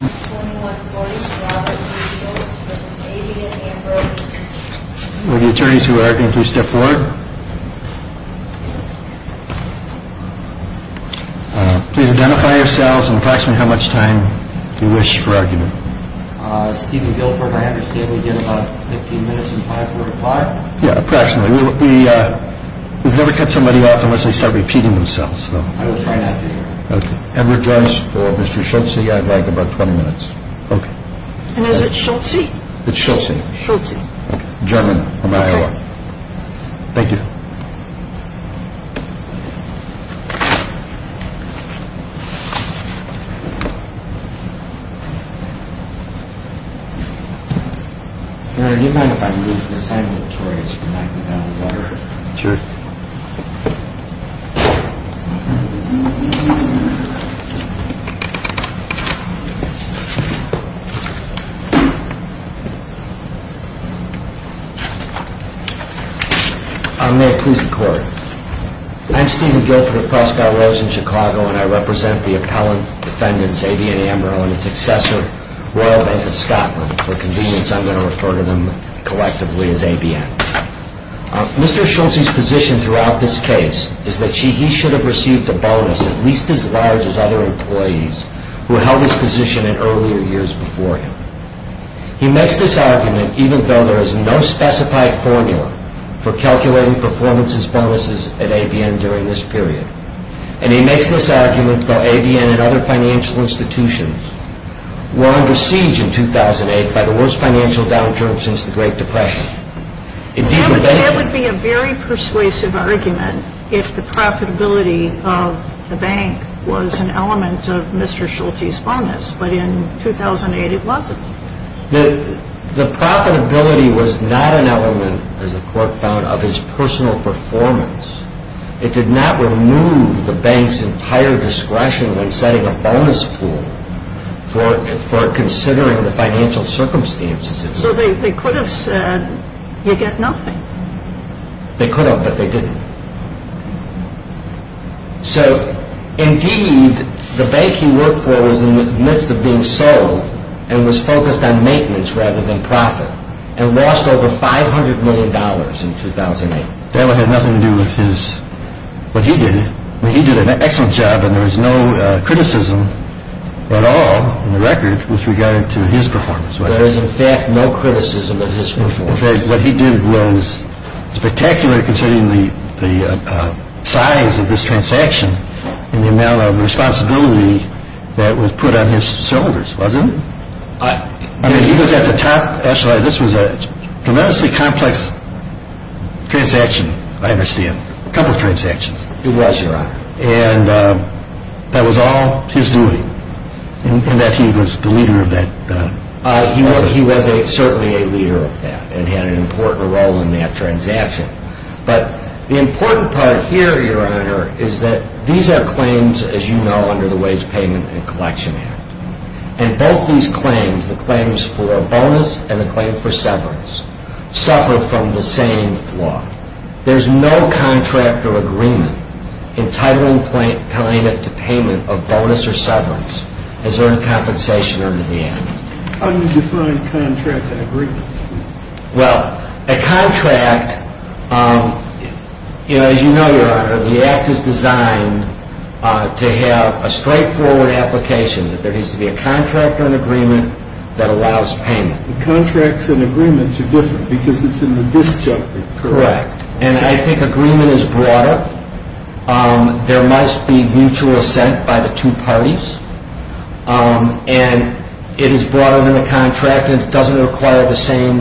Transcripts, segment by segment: The attorneys who are going to step forward, please identify yourselves and approximately how much time you wish for argument. Steven Gilbert, I understand we get about 15 minutes and five four to five. Yeah, approximately. We've never cut somebody off unless they start repeating themselves. So I will try not to ever judge for Mr. Schultze. I'd like about 20 minutes. OK. And is it Schultze? It's Schultze Schultze German from Iowa. Thank you. Do you mind if I move this? I may please record. I'm Steven Gilbert of Prescott Rose in Chicago and I represent the appellant defendants ABN Amro and its successor Royal Bank of Scotland for convenience, I'm going to refer to them collectively as ABN Amro. Mr. Schultze's position throughout this case is that he should have received a bonus at least as large as other employees who held his position in earlier years before him. He makes this argument even though there is no specified formula for calculating performances bonuses at ABN during this period. And he makes this argument for ABN and other financial institutions were under siege in 2008 by the worst financial downturn since the Great Depression. It would be a very persuasive argument if the profitability of the bank was an element of Mr. Schultze's bonus. But in 2008, it wasn't. The profitability was not an element, as the court found, of his personal performance. It did not remove the bank's entire discretion in setting a bonus pool for considering the financial circumstances. So they could have said you get nothing. They could have, but they didn't. So indeed, the bank he worked for was in the midst of being sold and was focused on maintenance rather than profit and lost over $500 million in 2008. That had nothing to do with what he did. He did an excellent job and there was no criticism at all in the record with regard to his performance. There was in fact no criticism of his performance. What he did was spectacular considering the size of this transaction and the amount of responsibility that was put on his shoulders, wasn't it? I mean, he was at the top. Actually, this was a tremendously complex transaction, I understand. A couple of transactions. It was, Your Honor. And that was all his doing in that he was the leader of that. He was certainly a leader of that and had an important role in that transaction. But the important part here, Your Honor, is that these are claims, as you know, under the Wage Payment and Collection Act. And both these claims, the claims for a bonus and the claim for severance, suffer from the same flaw. There's no contract or agreement entitling plaintiff to payment of bonus or severance as earned compensation under the act. How do you define contract and agreement? Well, a contract, as you know, Your Honor, the act is designed to have a straightforward application. There needs to be a contract and agreement that allows payment. Contracts and agreements are different because it's in the disjunctive. Correct. And I think agreement is broader. There must be mutual assent by the two parties. And it is broader than a contract and it doesn't require the same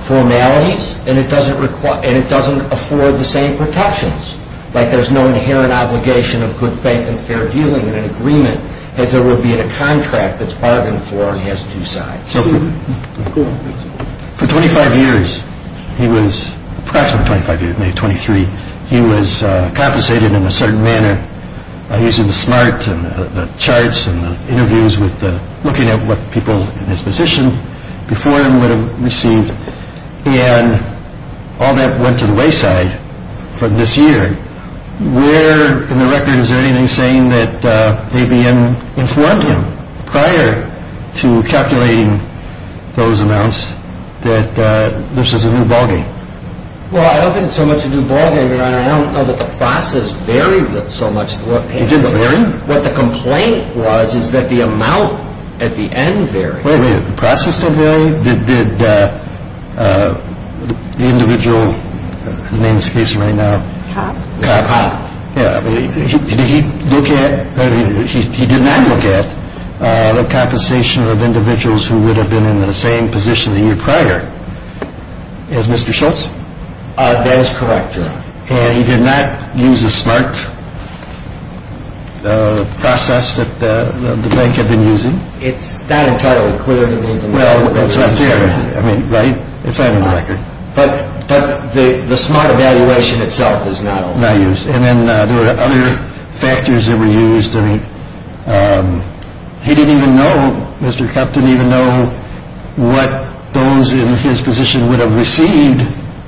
formalities and it doesn't afford the same protections. Like there's no inherent obligation of good faith and fair dealing in an agreement as there would be in a contract that's bargained for and has two sides. So for 25 years, he was, approximately 25 years, maybe 23, he was compensated in a certain manner using the SMART and the charts and the interviews with looking at what people in his position before him would have received. And all that went to the wayside for this year. Where in the record is there anything saying that ABM informed him prior to calculating those amounts that this was a new ballgame? Well, I don't think it's so much a new ballgame, Your Honor. I don't know that the process varied so much. It didn't vary? What the complaint was is that the amount at the end varied. Wait a minute. The process didn't vary? Did the individual, his name escapes me right now, cop? Cop. Yeah. Did he look at, he did not look at the compensation of individuals who would have been in the same position a year prior as Mr. Schultz? That is correct, Your Honor. And he did not use the SMART process that the bank had been using? It's not entirely clear to me. Well, it's not there. I mean, right? It's not in the record. But the SMART evaluation itself is not used. Not used. And then there were other factors that were used. I mean, he didn't even know, Mr. Cop didn't even know what those in his position would have received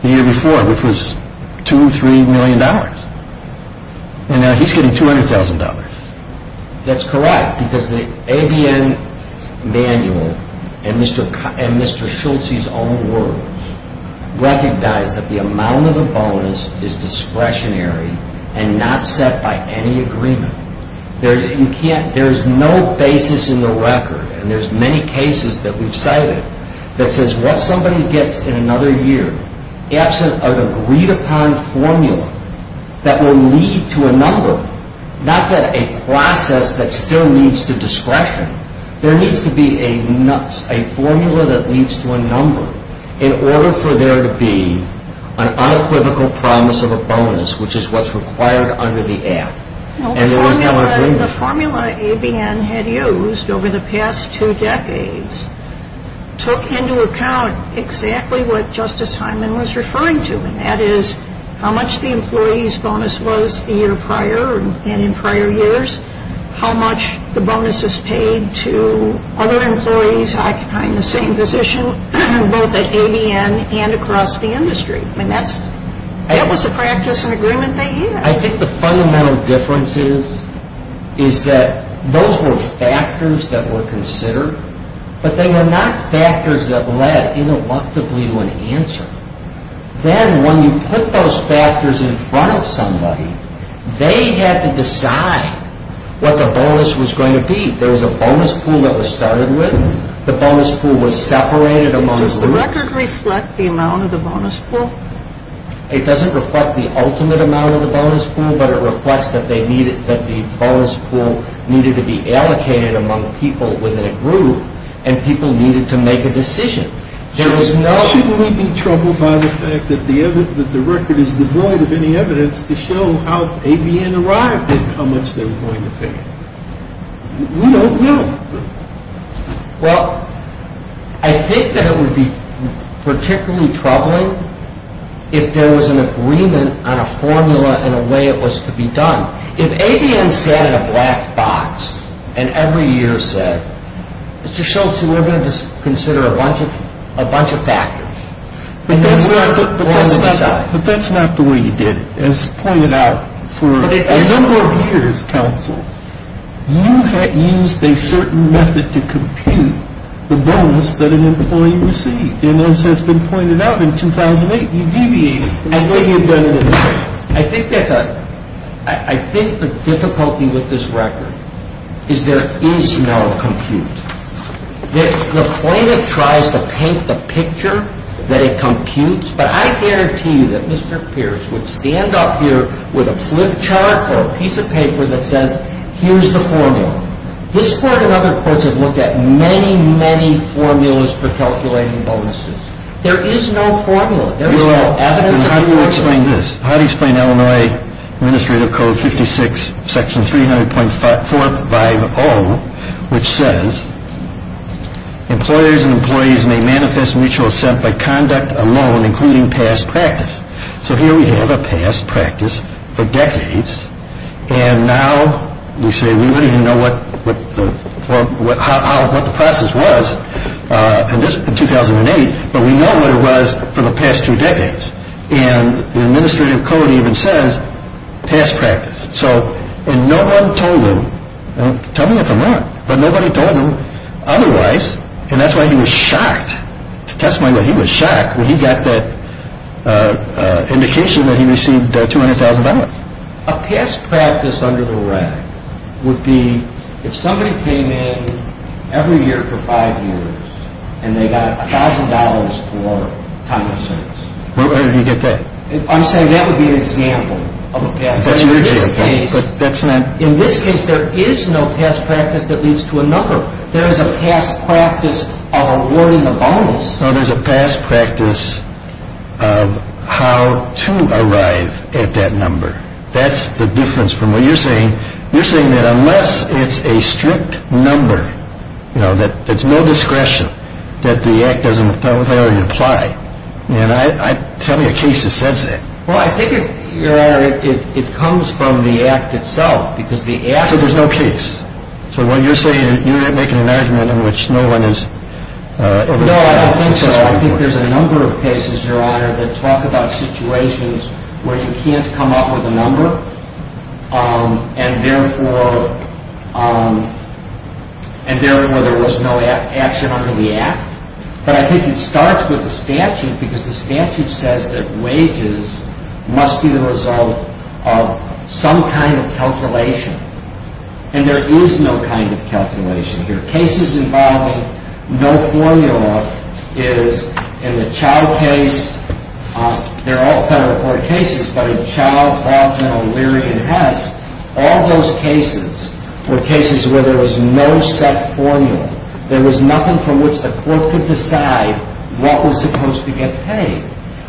the year before, which was two, three million dollars. And now he's getting $200,000. That's correct, because the ABN manual and Mr. Schultz's own words recognize that the amount of the bonus is discretionary and not set by any agreement. There's no basis in the record, and there's many cases that we've cited, that says what somebody gets in another year, absent an agreed-upon formula that will lead to a number, not that a process that still leads to discretion. There needs to be a formula that leads to a number in order for there to be an unequivocal promise of a bonus, which is what's required under the Act. The formula ABN had used over the past two decades took into account exactly what Justice Hyman was referring to, and that is how much the employee's bonus was the year prior and in prior years, how much the bonus is paid to other employees occupying the same position, both at ABN and across the industry. I mean, that was a practice and agreement they had. I think the fundamental difference is that those were factors that were considered, but they were not factors that led, intuitively, to an answer. Then when you put those factors in front of somebody, they had to decide what the bonus was going to be. There was a bonus pool that was started with. The bonus pool was separated among groups. Does the record reflect the amount of the bonus pool? It doesn't reflect the ultimate amount of the bonus pool, but it reflects that the bonus pool needed to be allocated among people within a group, and people needed to make a decision. There was no... Shouldn't we be troubled by the fact that the record is devoid of any evidence to show how ABN arrived at how much they were going to pay? We don't know. Well, I think that it would be particularly troubling if there was an agreement on a formula and a way it was to be done. If ABN sat in a black box and every year said, Mr. Schultz, we're going to consider a bunch of factors... But that's not the way you did it. As pointed out, for a number of years, counsel, you had used a certain method to compute the bonus that an employee received. And as has been pointed out, in 2008, you deviated. I know you've done it in the past. I think that's a... I think the difficulty with this record is there is no compute. The plaintiff tries to paint the picture that it computes, but I guarantee you that Mr. Pierce would stand up here with a flip chart or a piece of paper that says, here's the formula. This Court and other courts have looked at many, many formulas for calculating bonuses. There is no formula. There is no evidence of the formula. How do you explain this? How do you explain Illinois Administrative Code 56, Section 300.450, which says, Employers and employees may manifest mutual assent by conduct alone, including past practice. So here we have a past practice for decades, and now we say we don't even know what the process was in 2008, but we know what it was for the past two decades. And the Administrative Code even says, past practice. And no one told him. Tell me if I'm wrong. But nobody told him otherwise, and that's why he was shocked. To testify that he was shocked when he got that indication that he received $200,000. A past practice under the RAC would be if somebody came in every year for five years and they got $1,000 for time of service. Where did he get that? I'm saying that would be an example of a past practice. That's your example. In this case, there is no past practice that leads to another. There is a past practice of awarding a bonus. No, there's a past practice of how to arrive at that number. That's the difference from what you're saying. You're saying that unless it's a strict number, that there's no discretion, that the act doesn't apply. Tell me a case that says that. Well, I think, Your Honor, it comes from the act itself. So there's no case? So what you're saying is you're making an argument in which no one is overpowering. No, I don't think so. I think there's a number of cases, Your Honor, that talk about situations where you can't come up with a number, and therefore there was no action under the act. But I think it starts with the statute, because the statute says that wages must be the result of some kind of calculation. And there is no kind of calculation here. Cases involving no formula is in the Chow case. They're all federal court cases, but in Chow, Faulkner, O'Leary, and Hess, all those cases were cases where there was no set formula. There was nothing from which the court could decide what was supposed to get paid.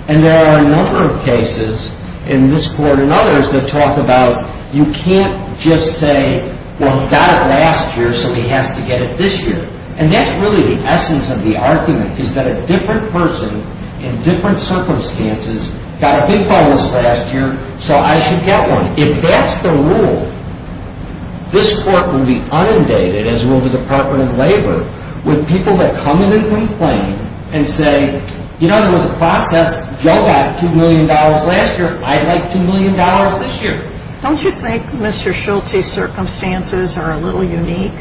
And there are a number of cases in this Court and others that talk about you can't just say, well, he got it last year, so he has to get it this year. And that's really the essence of the argument, is that a different person in different circumstances got a big bonus last year, so I should get one. If that's the rule, this Court will be unindated, as will the Department of Labor, with people that come in and complain and say, you know, there was a process. Joe got $2 million last year. I'd like $2 million this year. Don't you think Mr. Schultz's circumstances are a little unique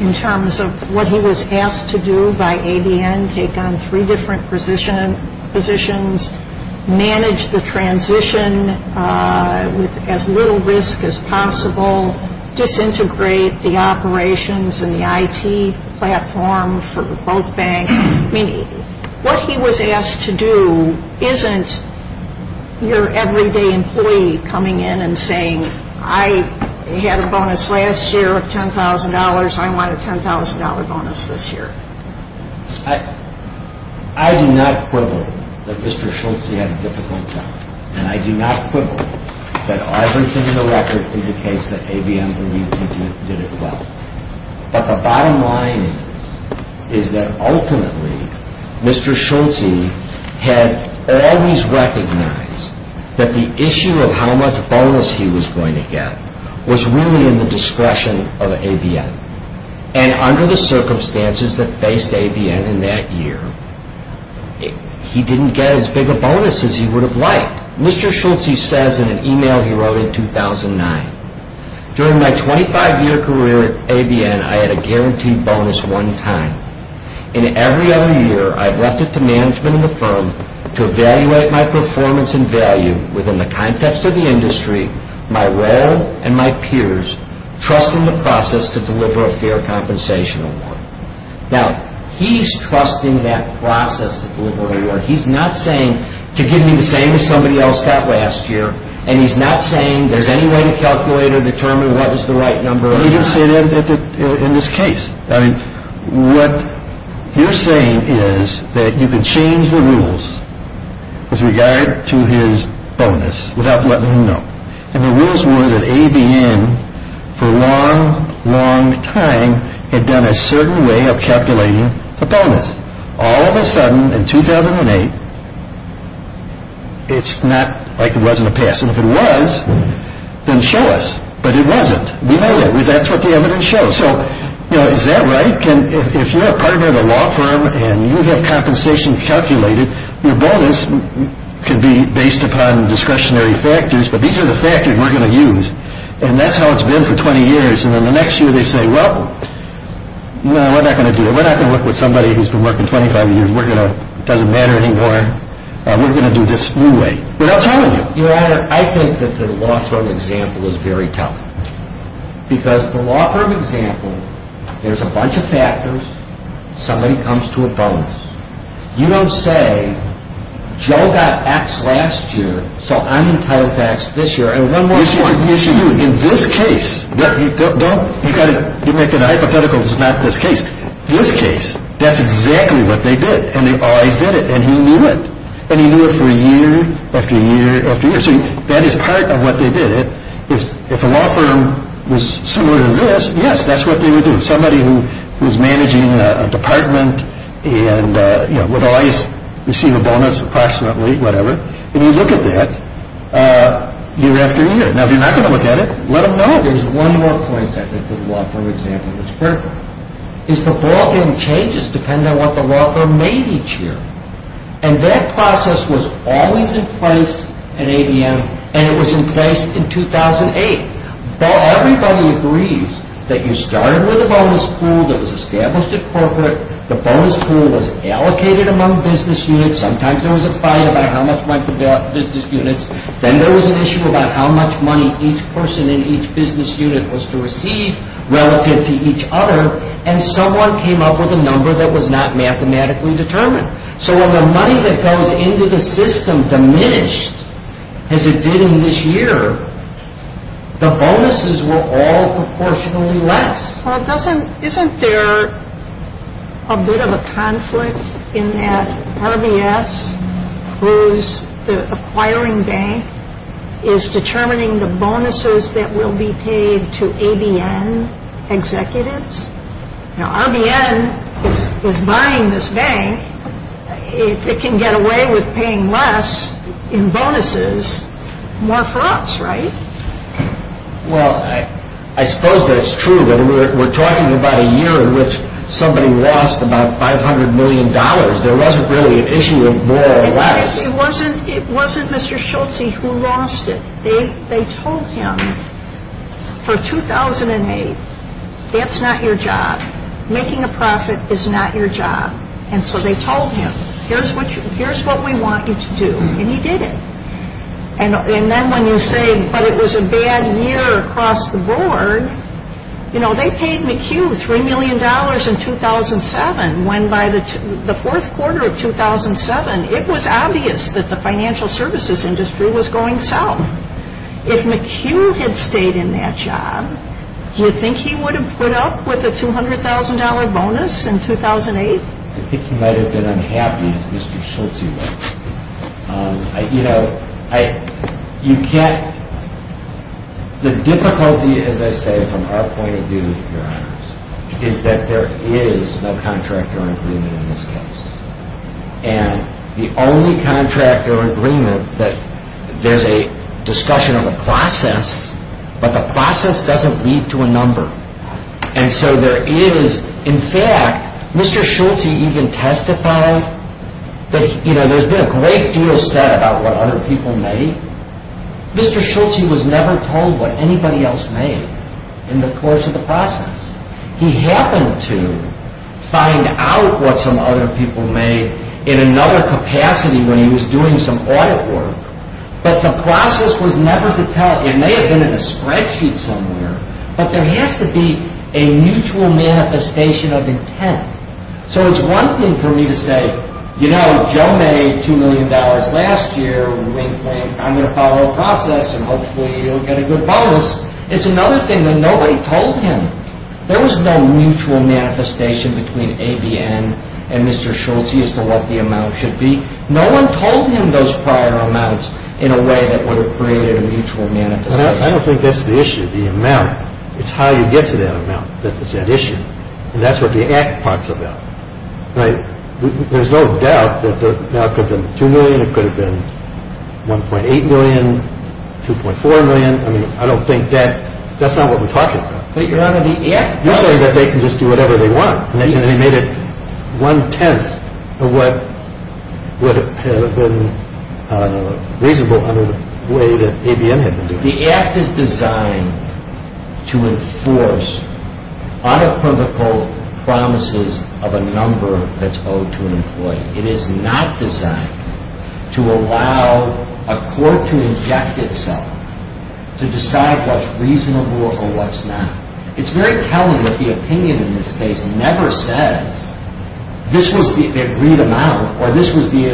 in terms of what he was asked to do by ABN, take on three different positions, manage the transition with as little risk as possible, disintegrate the operations and the IT platform for both banks? I mean, what he was asked to do isn't your everyday employee coming in and saying, I had a bonus last year of $10,000. I want a $10,000 bonus this year. I do not quibble that Mr. Schultz had a difficult time, and I do not quibble that everything in the record indicates that ABN did it well. But the bottom line is that ultimately Mr. Schultz had always recognized that the issue of how much bonus he was going to get was really in the discretion of ABN. And under the circumstances that faced ABN in that year, he didn't get as big a bonus as he would have liked. Mr. Schultz, he says in an email he wrote in 2009, during my 25-year career at ABN, I had a guaranteed bonus one time. In every other year, I've left it to management and the firm to evaluate my performance and value within the context of the industry, my role, and my peers, trusting the process to deliver a fair compensation award. Now, he's trusting that process to deliver an award. He's not saying to give me the same as somebody else got last year, and he's not saying there's any way to calculate or determine what is the right number. He didn't say that in this case. What you're saying is that you can change the rules with regard to his bonus without letting him know. And the rules were that ABN for a long, long time had done a certain way of calculating the bonus. All of a sudden, in 2008, it's not like it wasn't a pass. And if it was, then show us. But it wasn't. We know that. That's what the evidence shows. So, you know, is that right? If you're a partner in a law firm and you have compensation calculated, your bonus can be based upon discretionary factors, but these are the factors we're going to use. And that's how it's been for 20 years. And then the next year they say, well, no, we're not going to do it. We're not going to work with somebody who's been working 25 years. It doesn't matter anymore. We're going to do this new way without telling you. Your Honor, I think that the law firm example is very telling. Because the law firm example, there's a bunch of factors. Somebody comes to a bonus. You don't say, Joe got axed last year, so I'm entitled to ax this year. And one more point. Yes, you do. In this case, don't make it a hypothetical it's not this case. This case, that's exactly what they did. And they always did it. And he knew it. And he knew it for a year after year after year. So that is part of what they did. If a law firm was similar to this, yes, that's what they would do. Somebody who's managing a department and would always receive a bonus approximately, whatever. And you look at that year after year. Now, if you're not going to look at it, let them know. There's one more point, I think, to the law firm example that's critical. Is the ballgame changes depend on what the law firm made each year. And that process was always in place at ABM, and it was in place in 2008. Everybody agrees that you started with a bonus pool that was established at corporate. The bonus pool was allocated among business units. Sometimes there was a fight about how much went to business units. Then there was an issue about how much money each person in each business unit was to receive relative to each other. And someone came up with a number that was not mathematically determined. So when the money that goes into the system diminished, as it did in this year, the bonuses were all proportionally less. Well, isn't there a bit of a conflict in that RBS, who's the acquiring bank, is determining the bonuses that will be paid to ABN executives? Now, ABN is buying this bank. It can get away with paying less in bonuses, more for us, right? Well, I suppose that's true. We're talking about a year in which somebody lost about $500 million. There wasn't really an issue of more or less. It wasn't Mr. Schulze who lost it. They told him, for 2008, that's not your job. Making a profit is not your job. And so they told him, here's what we want you to do. And he did it. And then when you say, but it was a bad year across the board, you know, they paid McHugh $3 million in 2007, when by the fourth quarter of 2007, it was obvious that the financial services industry was going south. If McHugh had stayed in that job, do you think he would have put up with a $200,000 bonus in 2008? I think he might have been unhappy, as Mr. Schulze was. You know, the difficulty, as I say, from our point of view, Your Honors, is that there is no contract or agreement in this case. And the only contract or agreement that there's a discussion of a process, but the process doesn't lead to a number. And so there is, in fact, Mr. Schulze even testified that, you know, there's been a great deal said about what other people made. Mr. Schulze was never told what anybody else made in the course of the process. He happened to find out what some other people made in another capacity when he was doing some audit work. But the process was never to tell. It may have been in a spreadsheet somewhere, but there has to be a mutual manifestation of intent. So it's one thing for me to say, you know, Joe made $2 million last year on their follow-up process, and hopefully he'll get a good bonus. It's another thing that nobody told him. There was no mutual manifestation between ABN and Mr. Schulze as to what the amount should be. No one told him those prior amounts in a way that would have created a mutual manifestation. I don't think that's the issue, the amount. It's how you get to that amount that is at issue. And that's what the Act talks about, right? There's no doubt that the amount could have been $2 million. It could have been $1.8 million, $2.4 million. I mean, I don't think that – that's not what we're talking about. But, Your Honor, the Act – You're saying that they can just do whatever they want. And they made it one-tenth of what would have been reasonable under the way that ABN had been doing it. The Act is designed to enforce auto-critical promises of a number that's owed to an employee. It is not designed to allow a court to inject itself to decide what's reasonable or what's not. It's very telling that the opinion in this case never says this was the agreed amount or this was the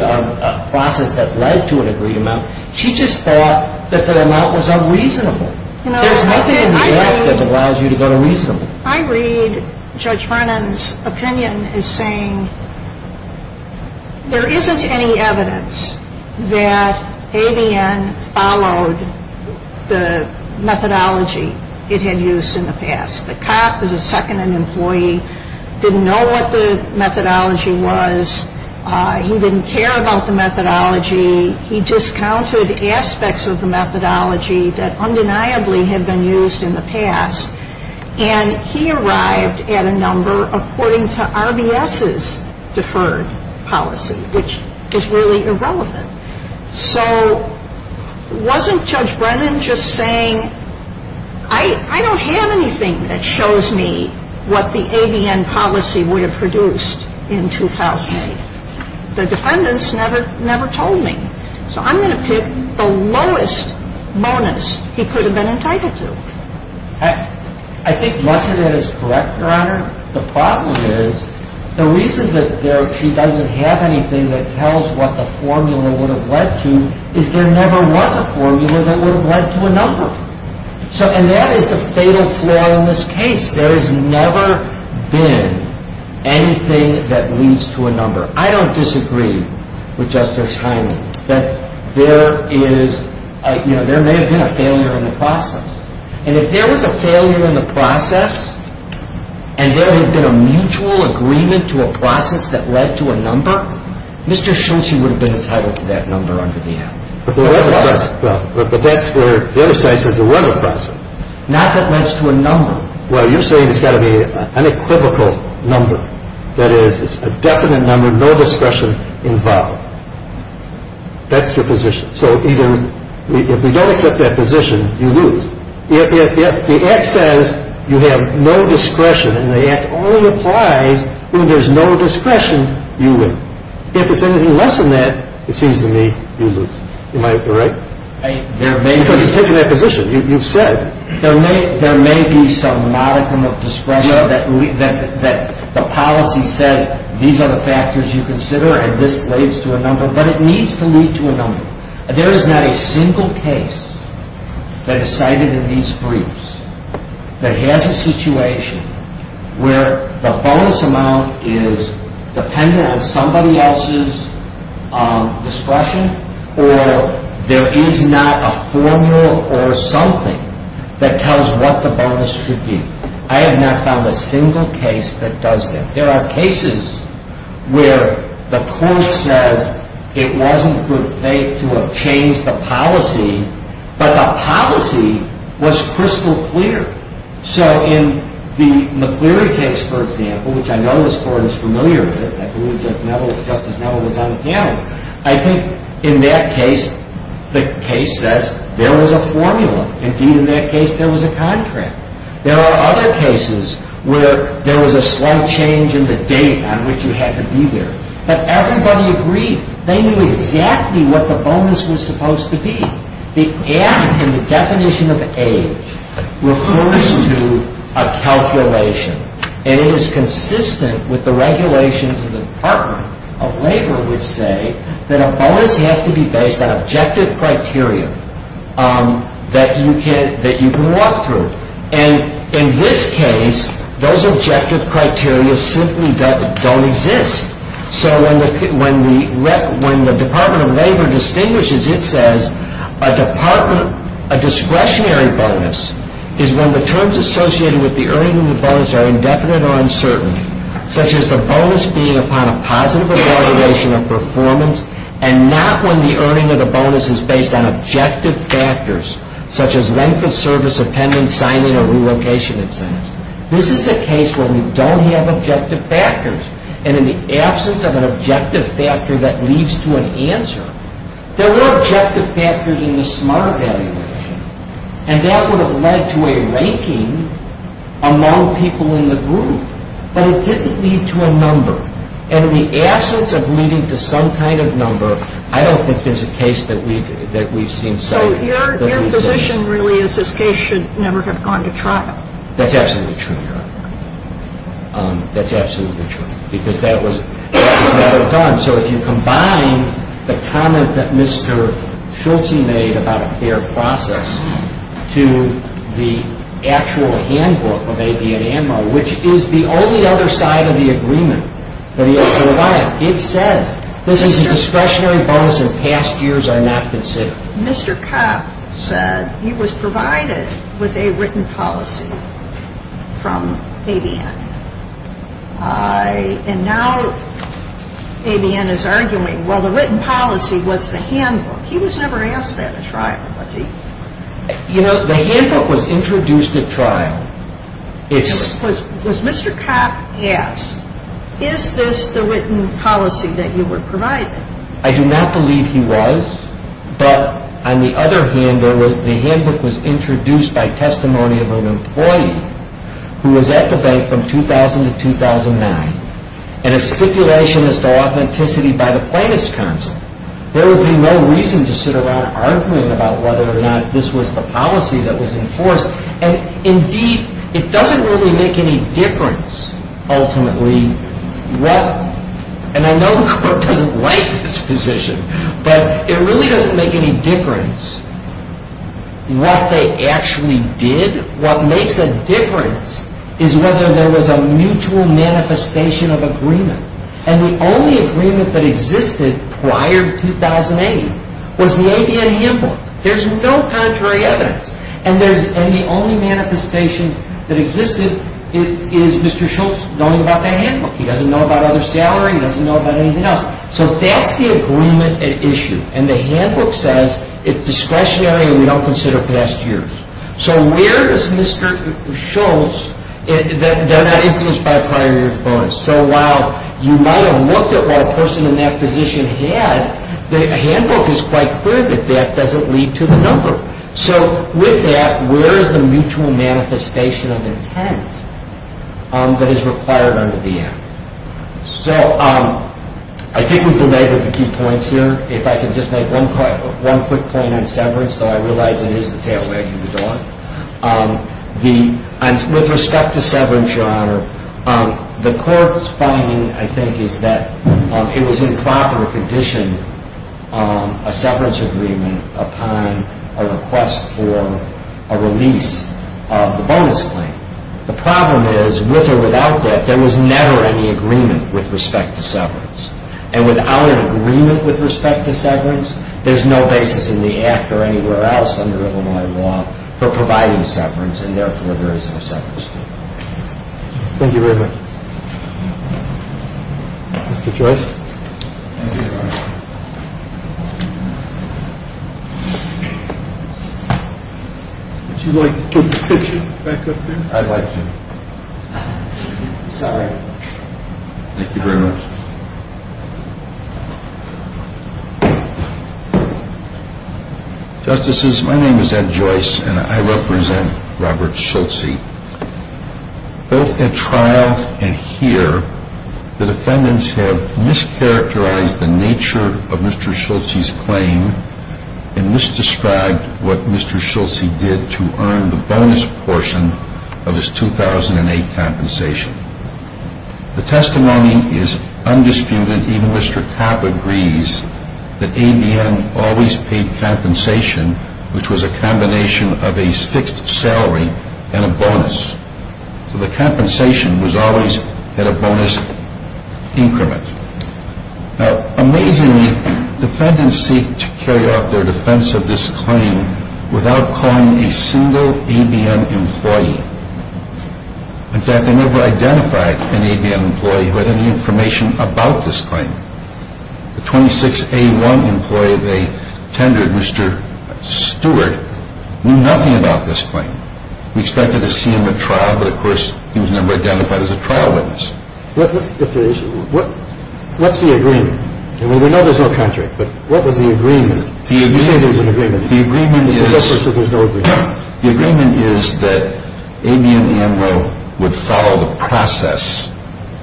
process that led to an agreed amount. She just thought that that amount was unreasonable. There's nothing in the Act that allows you to go to reasonableness. I read Judge Vernon's opinion as saying there isn't any evidence that ABN followed the methodology it had used in the past. The cop is a second-hand employee, didn't know what the methodology was. He didn't care about the methodology. He discounted aspects of the methodology that undeniably had been used in the past. And he arrived at a number according to RBS's deferred policy, which is really irrelevant. So wasn't Judge Vernon just saying, I don't have anything that shows me what the ABN policy would have produced in 2008? The defendants never told me. So I'm going to pick the lowest bonus he could have been entitled to. I think much of that is correct, Your Honor. The problem is the reason that she doesn't have anything that tells what the formula would have led to is there never was a formula that would have led to a number. And that is the fatal flaw in this case. There has never been anything that leads to a number. I don't disagree with Justice Hyman that there is, you know, there may have been a failure in the process. And if there was a failure in the process and there had been a mutual agreement to a process that led to a number, Mr. Schulze would have been entitled to that number under the ABN. But there was a process. But that's where the other side says there was a process. Not that led to a number. Well, you're saying it's got to be an equivocal number. That is, it's a definite number, no discretion involved. That's your position. So either if we don't accept that position, you lose. If the Act says you have no discretion and the Act only applies when there's no discretion, you win. If it's anything less than that, it seems to me you lose. Am I correct? Because you've taken that position. You've said. There may be some modicum of discretion that the policy says these are the factors you consider and this leads to a number. But it needs to lead to a number. There is not a single case that is cited in these briefs that has a situation where the bonus amount is dependent on somebody else's discretion or there is not a formula or something that tells what the bonus should be. I have not found a single case that does that. There are cases where the court says it wasn't good faith to have changed the policy, but the policy was crystal clear. So in the McCleary case, for example, which I know this Court is familiar with, I believe Justice Neville was on the panel. I think in that case, the case says there was a formula. Indeed, in that case, there was a contract. There are other cases where there was a slight change in the date on which you had to be there. But everybody agreed. They knew exactly what the bonus was supposed to be. The add in the definition of age refers to a calculation. And it is consistent with the regulations of the Department of Labor which say that a bonus has to be based on objective criteria that you can walk through. And in this case, those objective criteria simply don't exist. So when the Department of Labor distinguishes, it says a discretionary bonus is when the terms associated with the earning of the bonus are indefinite or uncertain, such as the bonus being upon a positive evaluation of performance and not when the earning of the bonus is based on objective factors, such as length of service, attendance, sign-in, or relocation incentives. This is a case where we don't have objective factors. And in the absence of an objective factor that leads to an answer, there were objective factors in the SMART evaluation. And that would have led to a ranking among people in the group. But it didn't lead to a number. And in the absence of leading to some kind of number, I don't think there's a case that we've seen cited. So your position really is this case should never have gone to trial. That's absolutely true, Your Honor. That's absolutely true. Because that was never done. So if you combine the comment that Mr. Schultz made about a fair process to the actual handbook of AD&MO, which is the only other side of the agreement that he has to rely on, it says this is a discretionary bonus and past years are not considered. Mr. Kopp said he was provided with a written policy from ABN. And now ABN is arguing, well, the written policy was the handbook. He was never asked that in trial, was he? You know, the handbook was introduced at trial. Was Mr. Kopp asked, is this the written policy that you were provided? I do not believe he was. But on the other hand, the handbook was introduced by testimony of an employee who was at the bank from 2000 to 2009. And a stipulation as to authenticity by the plaintiff's counsel. There would be no reason to sit around arguing about whether or not this was the policy that was enforced. Indeed, it doesn't really make any difference ultimately what, and I know Mr. Kopp doesn't like this position, but it really doesn't make any difference what they actually did. What makes a difference is whether there was a mutual manifestation of agreement. And the only agreement that existed prior to 2008 was the ABN handbook. There's no contrary evidence. And the only manifestation that existed is Mr. Schultz knowing about that handbook. He doesn't know about other salary. He doesn't know about anything else. So that's the agreement at issue. And the handbook says it's discretionary and we don't consider past years. So where does Mr. Schultz, they're not influenced by a prior year's bonus. So while you might have looked at what a person in that position had, the handbook is quite clear that that doesn't lead to the number. So with that, where is the mutual manifestation of intent that is required under the act? So I think we've delayed with the key points here. If I could just make one quick point on severance, though I realize it is the tail wagging the dog. With respect to severance, Your Honor, the court's finding, I think, is that it was improper to condition a severance agreement upon a request for a release of the bonus claim. The problem is, with or without that, there was never any agreement with respect to severance. And without an agreement with respect to severance, there's no basis in the act or anywhere else under Illinois law for providing severance, and therefore there is no severance. Thank you very much. Mr. Joyce. Would you like to put the picture back up there? I'd like to. Sorry. Thank you very much. Justices, my name is Ed Joyce, and I represent Robert Schultz. Both at trial and here, the defendants have mischaracterized the nature of Mr. Schultz's claim and misdescribed what Mr. Schultz did to earn the bonus portion of his 2008 compensation. The testimony is undisputed. Even Mr. Kopp agrees that ABM always paid compensation, which was a combination of a fixed salary and a bonus. So the compensation was always at a bonus increment. Now, amazingly, defendants seek to carry off their defense of this claim without calling a single ABM employee. In fact, they never identified an ABM employee who had any information about this claim. The 26A1 employee they tendered, Mr. Stewart, knew nothing about this claim. We expected to see him at trial, but, of course, he was never identified as a trial witness. What's the issue? What's the agreement? I mean, we know there's no contract, but what was the agreement? You say there was an agreement. The agreement is that there's no agreement. The agreement is that ABM would follow the process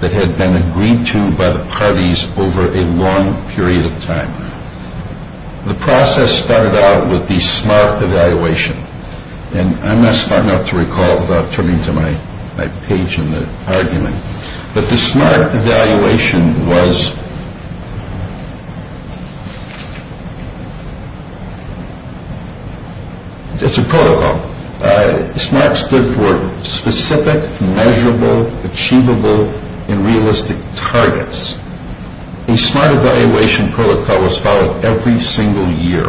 that had been agreed to by the parties over a long period of time. The process started out with the SMART evaluation. And I'm not smart enough to recall it without turning to my page in the argument. But the SMART evaluation was – it's a protocol. SMART is good for specific, measurable, achievable, and realistic targets. A SMART evaluation protocol was followed every single year.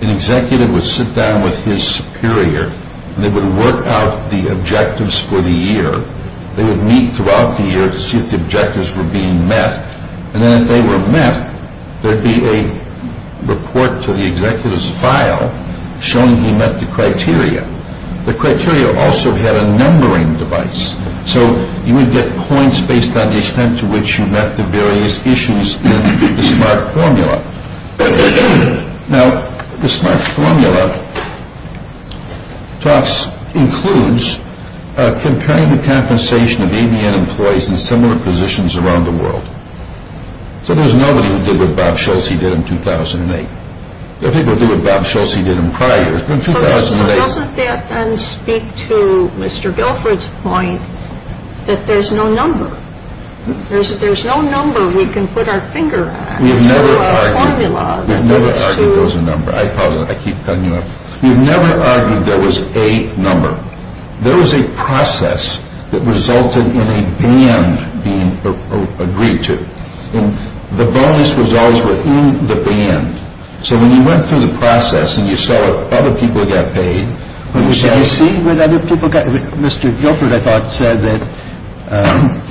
An executive would sit down with his superior, and they would work out the objectives for the year. They would meet throughout the year to see if the objectives were being met. And then if they were met, there would be a report to the executive's file showing he met the criteria. The criteria also had a numbering device. So you would get points based on the extent to which you met the various issues in the SMART formula. Now, the SMART formula includes comparing the compensation of ABM employees in similar positions around the world. So there's nobody who did what Bob Schultz did in 2008. There are people who did what Bob Schultz did in prior years. But in 2008 – So doesn't that then speak to Mr. Guilford's point that there's no number? There's no number we can put our finger on. We've never argued there was a number. I keep telling you that. We've never argued there was a number. There was a process that resulted in a band being agreed to. And the bonus results were in the band. So when you went through the process and you saw other people got paid – Mr. Guilford, I thought, said that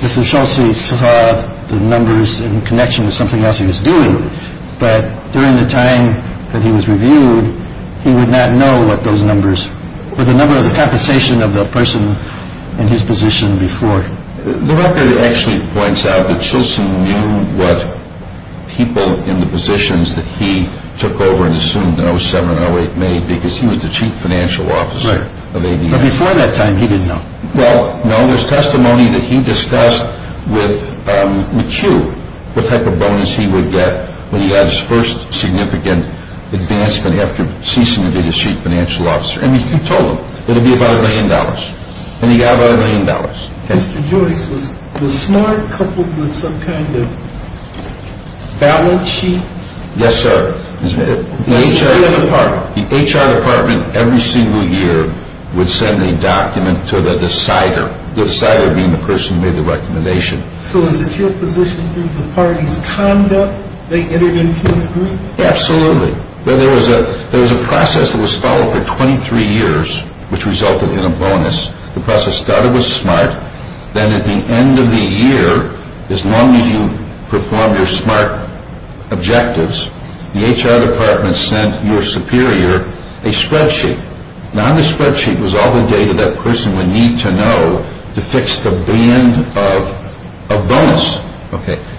Mr. Schultz saw the numbers in connection to something else he was doing. But during the time that he was reviewed, he would not know what those numbers – or the number of the compensation of the person in his position before. The record actually points out that Schultz knew what people in the positions that he took over because he was the chief financial officer of ADM. But before that time, he didn't know? Well, no. There's testimony that he discussed with McHugh what type of bonus he would get when he got his first significant advancement after ceasing to be the chief financial officer. And McHugh told him it would be about a million dollars. And he got about a million dollars. Mr. Joyce was smart coupled with some kind of balance sheet? Yes, sir. The HR department every single year would send a document to the decider, the decider being the person who made the recommendation. So is it your position through the party's conduct they entered into an agreement? Absolutely. There was a process that was followed for 23 years which resulted in a bonus. The process started with SMART. Then at the end of the year, as long as you performed your SMART objectives, the HR department sent your superior a spreadsheet. Now on the spreadsheet was all the data that person would need to know to fix the band of bonus.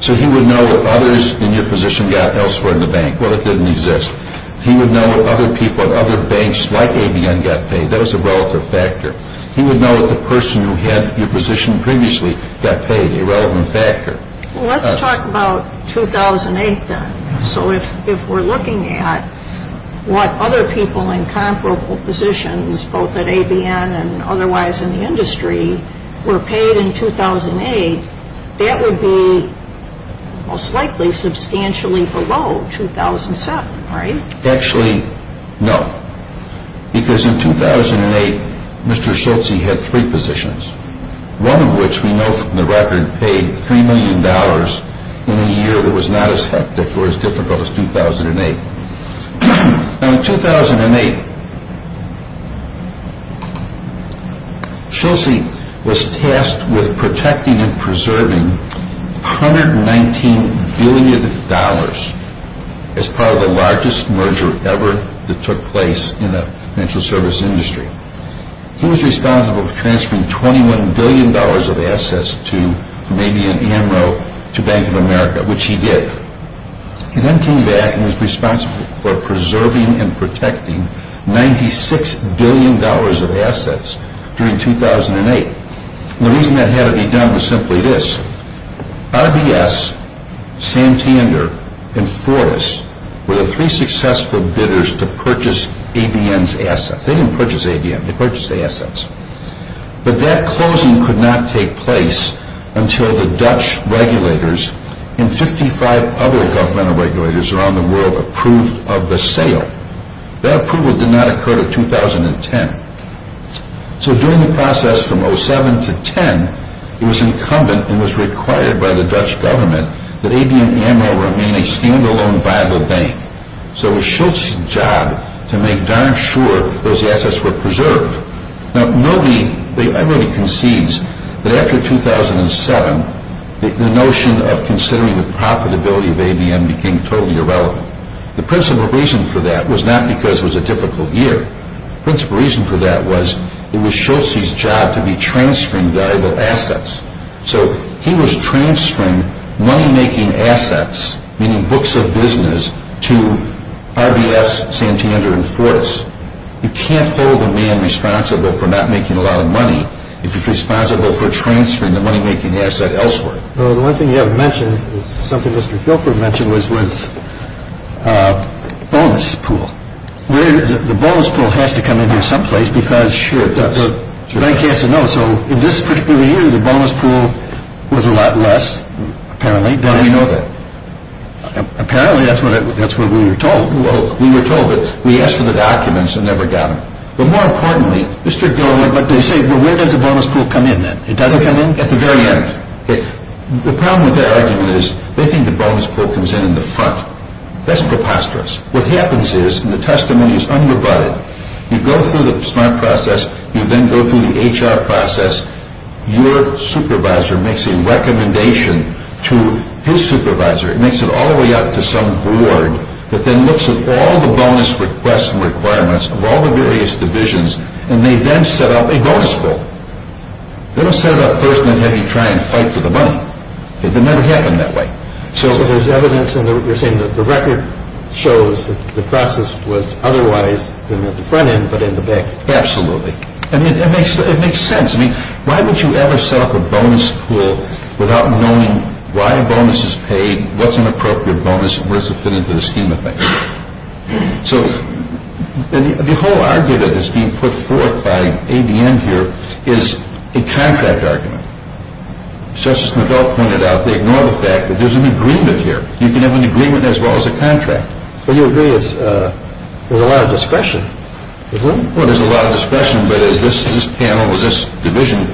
So he would know what others in your position got elsewhere in the bank. Well, it didn't exist. He would know what other people at other banks like ADM got paid. That was a relative factor. He would know what the person who had your position previously got paid, a relevant factor. Well, let's talk about 2008 then. So if we're looking at what other people in comparable positions both at ABN and otherwise in the industry were paid in 2008, that would be most likely substantially below 2007, right? Actually, no. Because in 2008, Mr. Schultz had three positions, one of which we know from the record paid $3 million in a year. It was not as hectic or as difficult as 2008. In 2008, Schultz was tasked with protecting and preserving $119 billion as part of the largest merger ever that took place in the financial service industry. He was responsible for transferring $21 billion of assets to maybe an AMRO to Bank of America, which he did. He then came back and was responsible for preserving and protecting $96 billion of assets during 2008. The reason that had to be done was simply this. RBS, Santander, and Forrest were the three successful bidders to purchase ABN's assets. They didn't purchase ABN. They purchased the assets. But that closing could not take place until the Dutch regulators and 55 other governmental regulators around the world approved of the sale. That approval did not occur to 2010. So during the process from 2007 to 2010, it was incumbent and was required by the Dutch government that ABN AMRO remain a stand-alone viable bank. So it was Schultz's job to make darn sure those assets were preserved. Now, nobody concedes that after 2007, the notion of considering the profitability of ABN became totally irrelevant. The principal reason for that was not because it was a difficult year. The principal reason for that was it was Schultz's job to be transferring valuable assets. So he was transferring money-making assets, meaning books of business, to RBS, Santander, and Forrest. You can't hold a man responsible for not making a lot of money if he's responsible for transferring the money-making asset elsewhere. Well, the one thing you haven't mentioned is something Mr. Guilford mentioned, which was bonus pool. Well, the bonus pool has to come in here someplace because, sure, the bank has to know. So in this particular year, the bonus pool was a lot less, apparently. How do we know that? Apparently, that's what we were told. Well, we were told that we asked for the documents and never got them. But more importantly, Mr. Guilford... But they say, well, where does the bonus pool come in then? It doesn't come in? At the very end. The problem with that argument is they think the bonus pool comes in in the front. That's preposterous. What happens is the testimony is unrebutted. You go through the SMART process. You then go through the HR process. Your supervisor makes a recommendation to his supervisor. It makes it all the way out to some board that then looks at all the bonus requests and requirements of all the various divisions, and they then set up a bonus pool. They don't set it up first and then have you try and fight for the money. It never happened that way. So there's evidence, and you're saying the record shows the process was otherwise in the front end but in the back. Absolutely. I mean, it makes sense. I mean, why would you ever set up a bonus pool without knowing why a bonus is paid, what's an appropriate bonus, and where does it fit into the scheme of things? So the whole argument that is being put forth by ABM here is a contract argument. As Justice Novell pointed out, they ignore the fact that there's an agreement here. You can have an agreement as well as a contract. But you agree there's a lot of discretion, isn't there? Well, there's a lot of discretion, but as this panel, as this division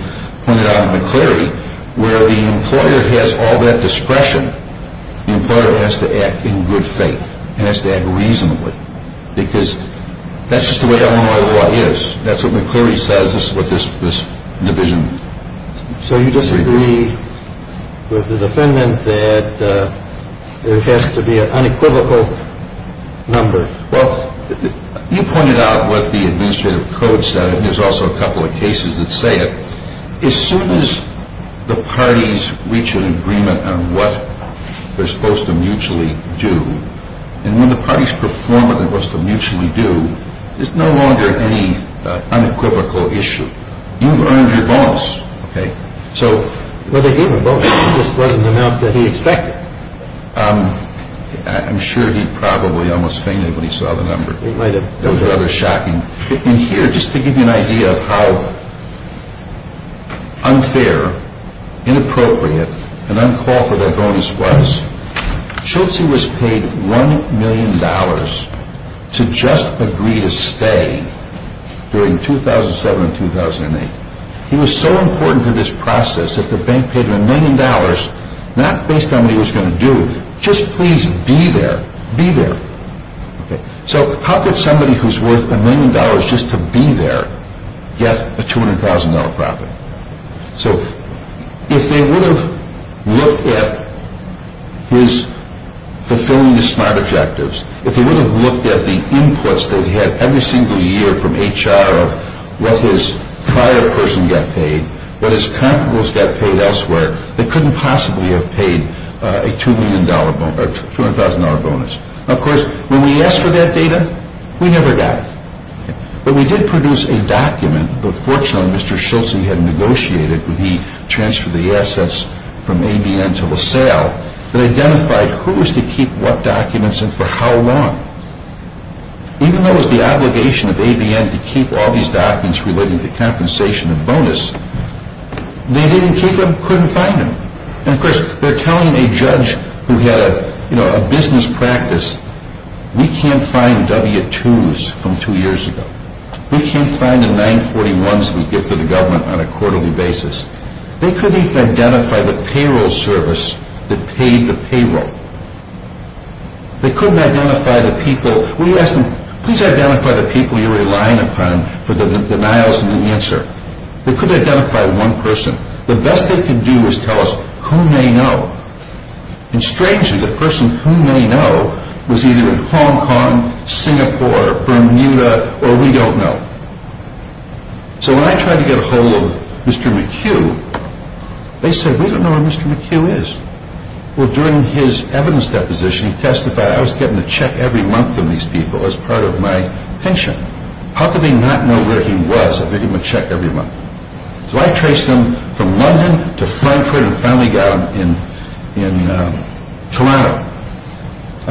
pointed out in McCleary, where the employer has all that discretion, the employer has to act in good faith and has to act reasonably because that's just the way Illinois law is. That's what McCleary says. That's what this division agrees. So you disagree with the defendant that there has to be an unequivocal number. Well, you pointed out what the administrative code said, and there's also a couple of cases that say it. As soon as the parties reach an agreement on what they're supposed to mutually do, and when the parties perform what they're supposed to mutually do, there's no longer any unequivocal issue. You've earned your bonus. Well, they gave him a bonus. It just wasn't enough that he expected. I'm sure he probably almost fainted when he saw the number. He might have. That was rather shocking. And here, just to give you an idea of how unfair, inappropriate, and uncalled for that bonus was, Schultz, he was paid $1 million to just agree to stay during 2007 and 2008. He was so important to this process that the bank paid him $1 million not based on what he was going to do, just please be there. Be there. So how could somebody who's worth $1 million just to be there get a $200,000 profit? So if they would have looked at his fulfilling the SMART objectives, if they would have looked at the inputs that he had every single year from HR of what his prior person got paid, what his contemporaries got paid elsewhere, they couldn't possibly have paid a $200,000 bonus. Of course, when we asked for that data, we never got it. But we did produce a document that fortunately Mr. Schultz had negotiated when he transferred the assets from ABN to LaSalle that identified who was to keep what documents and for how long. Even though it was the obligation of ABN to keep all these documents related to compensation and bonus, they didn't keep them, couldn't find them. And of course, they're telling a judge who had a business practice, we can't find W-2s from two years ago. We can't find the 941s we give to the government on a quarterly basis. They couldn't even identify the payroll service that paid the payroll. They couldn't identify the people. We asked them, please identify the people you're relying upon for the denials and the answer. They couldn't identify one person. The best they could do was tell us whom they know. And strangely, the person whom they know was either in Hong Kong, Singapore, Bermuda, or we don't know. So when I tried to get a hold of Mr. McHugh, they said, we don't know where Mr. McHugh is. Well, during his evidence deposition, he testified, I was getting a check every month from these people as part of my pension. How could they not know where he was if they gave him a check every month? So I traced them from London to Frankfurt and finally got them in Toronto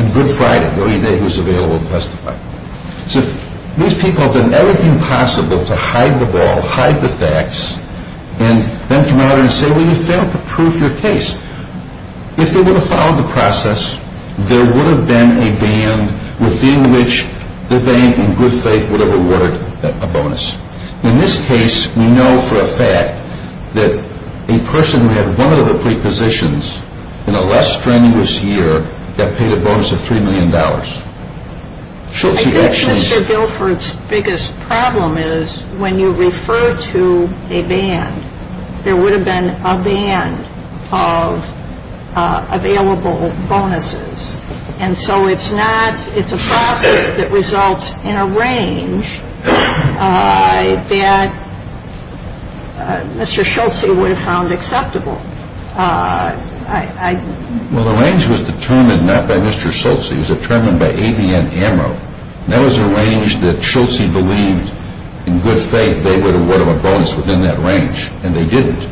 on Good Friday, the only day he was available to testify. So these people have done everything possible to hide the ball, hide the facts, and then come out and say, well, you failed to prove your case. If they would have followed the process, there would have been a ban within which the bank, in good faith, would have awarded a bonus. In this case, we know for a fact that a person who had one of the prepositions in a less strenuous year got paid a bonus of $3 million. I guess Mr. Guilford's biggest problem is when you refer to a ban, there would have been a ban of available bonuses. And so it's not – it's a process that results in a range that Mr. Schultz would have found acceptable. Well, the range was determined not by Mr. Schultz. It was determined by ABN AMRO. That was a range that Schultz believed in good faith they would award him a bonus within that range, and they didn't.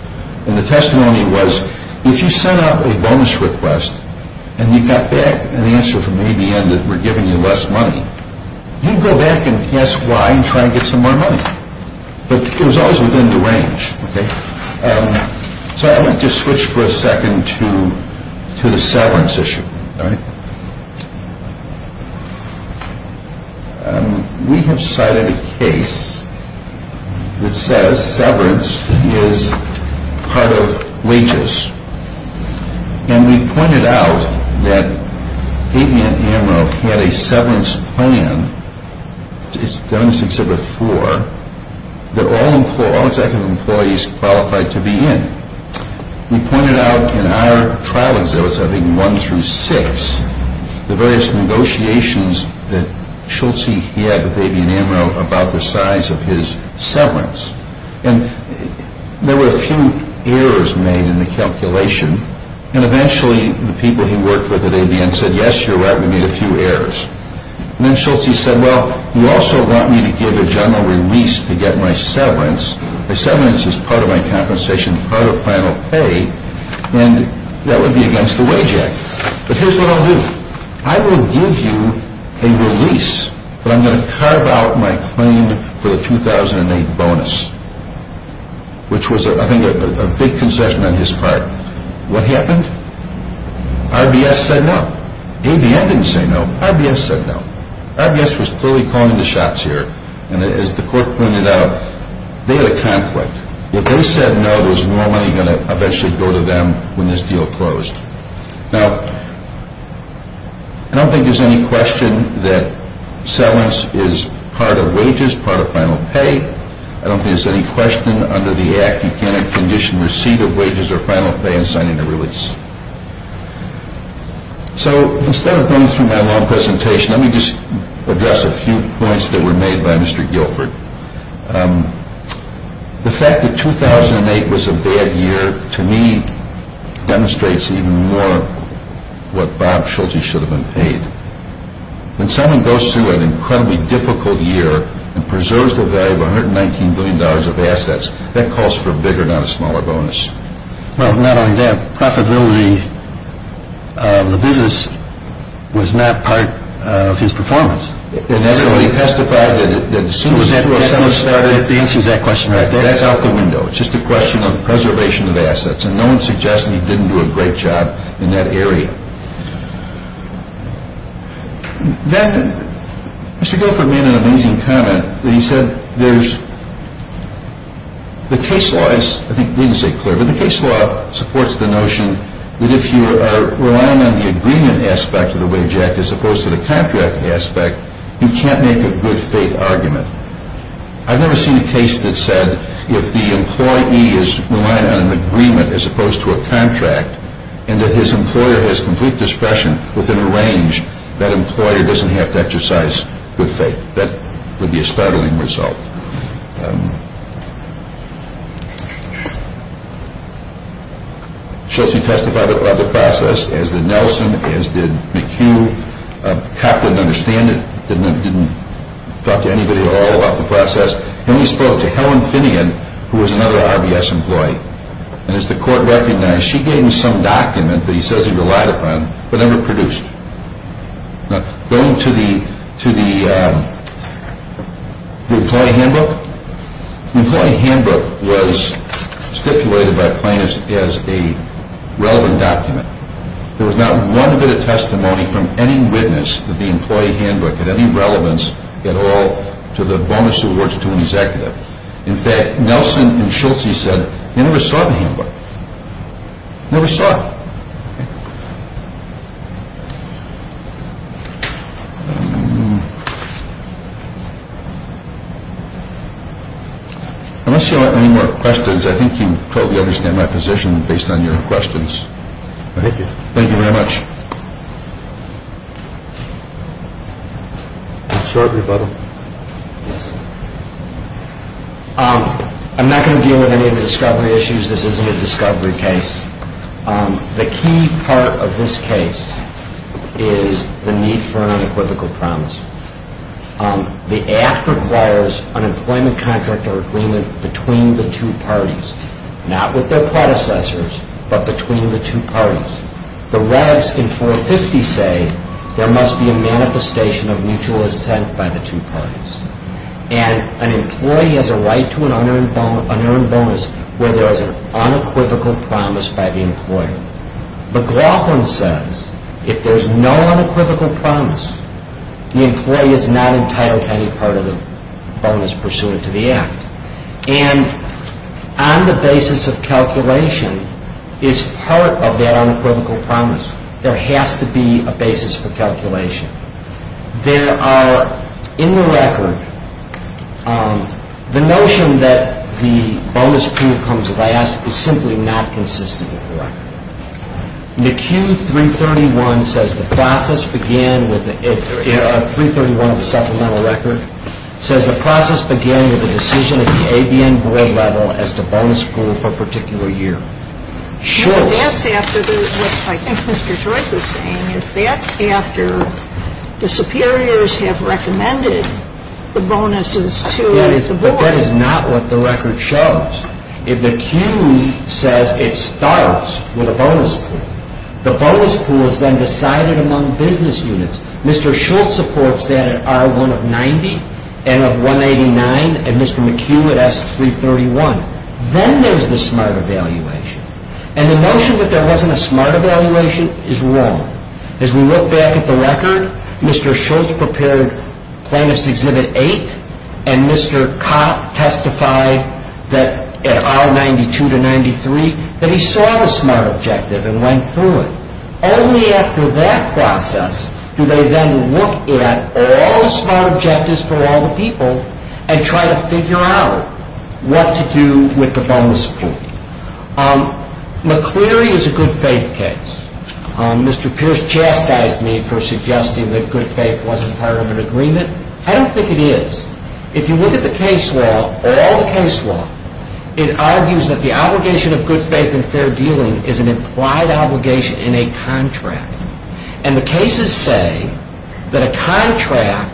And the testimony was, if you sent out a bonus request and you got back an answer from ABN that we're giving you less money, you'd go back and guess why and try to get some more money. But it was always within the range. So I'd like to switch for a second to the severance issue. All right. We have cited a case that says severance is part of wages. And we've pointed out that ABN AMRO had a severance plan. It's done six of the four that all executive employees qualified to be in. We pointed out in our trial exhibits, I think one through six, the various negotiations that Schultz had with ABN AMRO about the size of his severance. And there were a few errors made in the calculation. And eventually the people he worked with at ABN said, yes, you're right, we made a few errors. And then Schultz said, well, you also want me to give a general release to get my severance. My severance is part of my compensation, part of final pay. And that would be against the Wage Act. But here's what I'll do. I will give you a release, but I'm going to carve out my claim for the 2008 bonus, which was, I think, a big concession on his part. What happened? RBS said no. ABN didn't say no. RBS said no. RBS was clearly calling the shots here. And as the court pointed out, they had a conflict. If they said no, it was normally going to eventually go to them when this deal closed. Now, I don't think there's any question that severance is part of wages, part of final pay. I don't think there's any question under the Act you can't condition receipt of wages or final pay in signing the release. So instead of going through my long presentation, let me just address a few points that were made by Mr. Guilford. The fact that 2008 was a bad year, to me, demonstrates even more what Bob Schulte should have been paid. When someone goes through an incredibly difficult year and preserves the value of $119 billion of assets, that calls for a bigger, not a smaller, bonus. Well, not only that. Profitability of the business was not part of his performance. And that's what he testified. If the answer is that question, right. That's out the window. It's just a question of preservation of assets. And no one suggested he didn't do a great job in that area. Then Mr. Guilford made an amazing comment. He said there's, the case law is, I think we can say clear, but the case law supports the notion that if you are relying on the agreement aspect of the Wage Act as opposed to the contract aspect, you can't make a good faith argument. I've never seen a case that said if the employee is relying on an agreement as opposed to a contract and that his employer has complete discretion within a range, that employer doesn't have to exercise good faith. That would be a startling result. Schultz, he testified about the process, as did Nelson, as did McHugh. Kopp didn't understand it, didn't talk to anybody at all about the process. Then he spoke to Helen Finian, who was another RBS employee. And as the court recognized, she gave him some document that he says he relied upon, but never produced. Going to the employee handbook, the employee handbook was stipulated by plaintiffs as a relevant document. There was not one bit of testimony from any witness that the employee handbook had any relevance at all to the bonus awards to an executive. In fact, Nelson and Schultz, he said, never saw the handbook. Never saw it. Unless you have any more questions, I think you probably understand my position based on your questions. Thank you. Thank you very much. I'm not going to deal with any of the discovery issues. This isn't a discovery case. The key part of this case is the need for an unequivocal promise. The Act requires an employment contract or agreement between the two parties, not with their predecessors, but between the two parties. The regs in 450 say there must be a manifestation of mutual assent by the two parties. And an employee has a right to an unearned bonus where there is an unequivocal promise by the employer. McLaughlin says if there's no unequivocal promise, the employee is not entitled to any part of the bonus pursuant to the Act. And on the basis of calculation is part of that unequivocal promise. There has to be a basis for calculation. There are, in the record, the notion that the bonus premium comes last is simply not consistent with the record. The Q331 says the process began with a decision at the ABN board level as to bonus pool for a particular year. That's after the, what I think Mr. Joyce is saying, is that's after the superiors have recommended the bonuses to the board. But that is not what the record shows. If the Q says it starts with a bonus pool, the bonus pool is then decided among business units. Mr. Schultz supports that at R1 of 90 and of 189 and Mr. McHugh at S331. Then there's the SMART evaluation. And the notion that there wasn't a SMART evaluation is wrong. As we look back at the record, Mr. Schultz prepared Plaintiff's Exhibit 8, and Mr. Kopp testified at R92 to 93 that he saw the SMART objective and went through it. Only after that process do they then look at all SMART objectives for all the people and try to figure out what to do with the bonus pool. McCleary is a good faith case. Mr. Pierce chastised me for suggesting that good faith wasn't part of an agreement. I don't think it is. If you look at the case law, all the case law, it argues that the obligation of good faith and fair dealing is an implied obligation in a contract. And the cases say that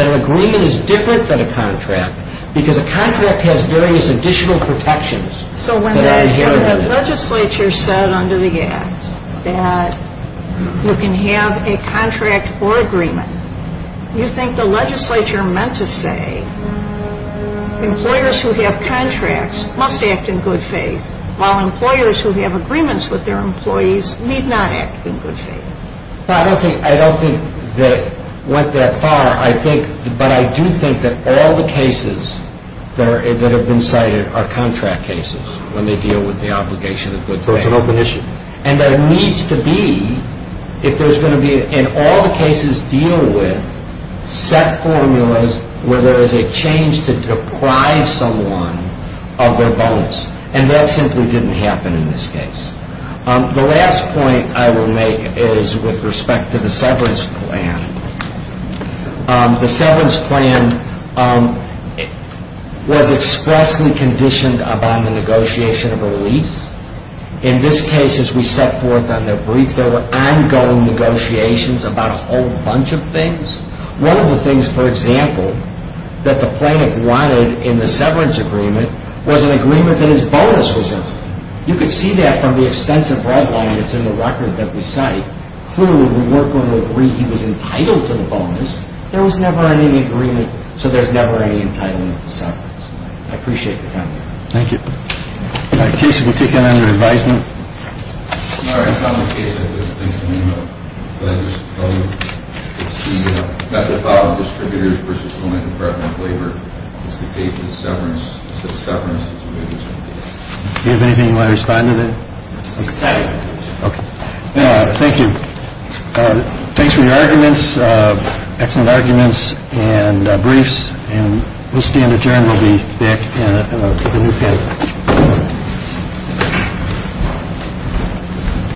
an agreement is different than a contract because a contract has various additional protections that are inherent in it. So when the legislature said under the Act that you can have a contract or agreement, you think the legislature meant to say employers who have contracts must act in good faith while employers who have agreements with their employees need not act in good faith? I don't think that went that far. But I do think that all the cases that have been cited are contract cases when they deal with the obligation of good faith. So it's an open issue. And there needs to be, if there's going to be, in all the cases dealed with, set formulas where there is a change to deprive someone of their bonus. And that simply didn't happen in this case. The last point I will make is with respect to the severance plan. The severance plan was expressly conditioned upon the negotiation of a lease. In this case, as we set forth on the brief, there were ongoing negotiations about a whole bunch of things. One of the things, for example, that the plaintiff wanted in the severance agreement was an agreement that his bonus was up. You could see that from the extensive red line that's in the record that we cite. Through the work on the brief, he was entitled to the bonus. There was never any agreement, so there's never any entitlement to severance. I appreciate your time. Thank you. In any case, we'll take it under advisement. All right. Distributors versus labor. Severance severance. Do you have anything you want to respond to that? Thank you. Thanks for your arguments. Excellent arguments and briefs. We'll stand adjourned. We'll be back in a little bit.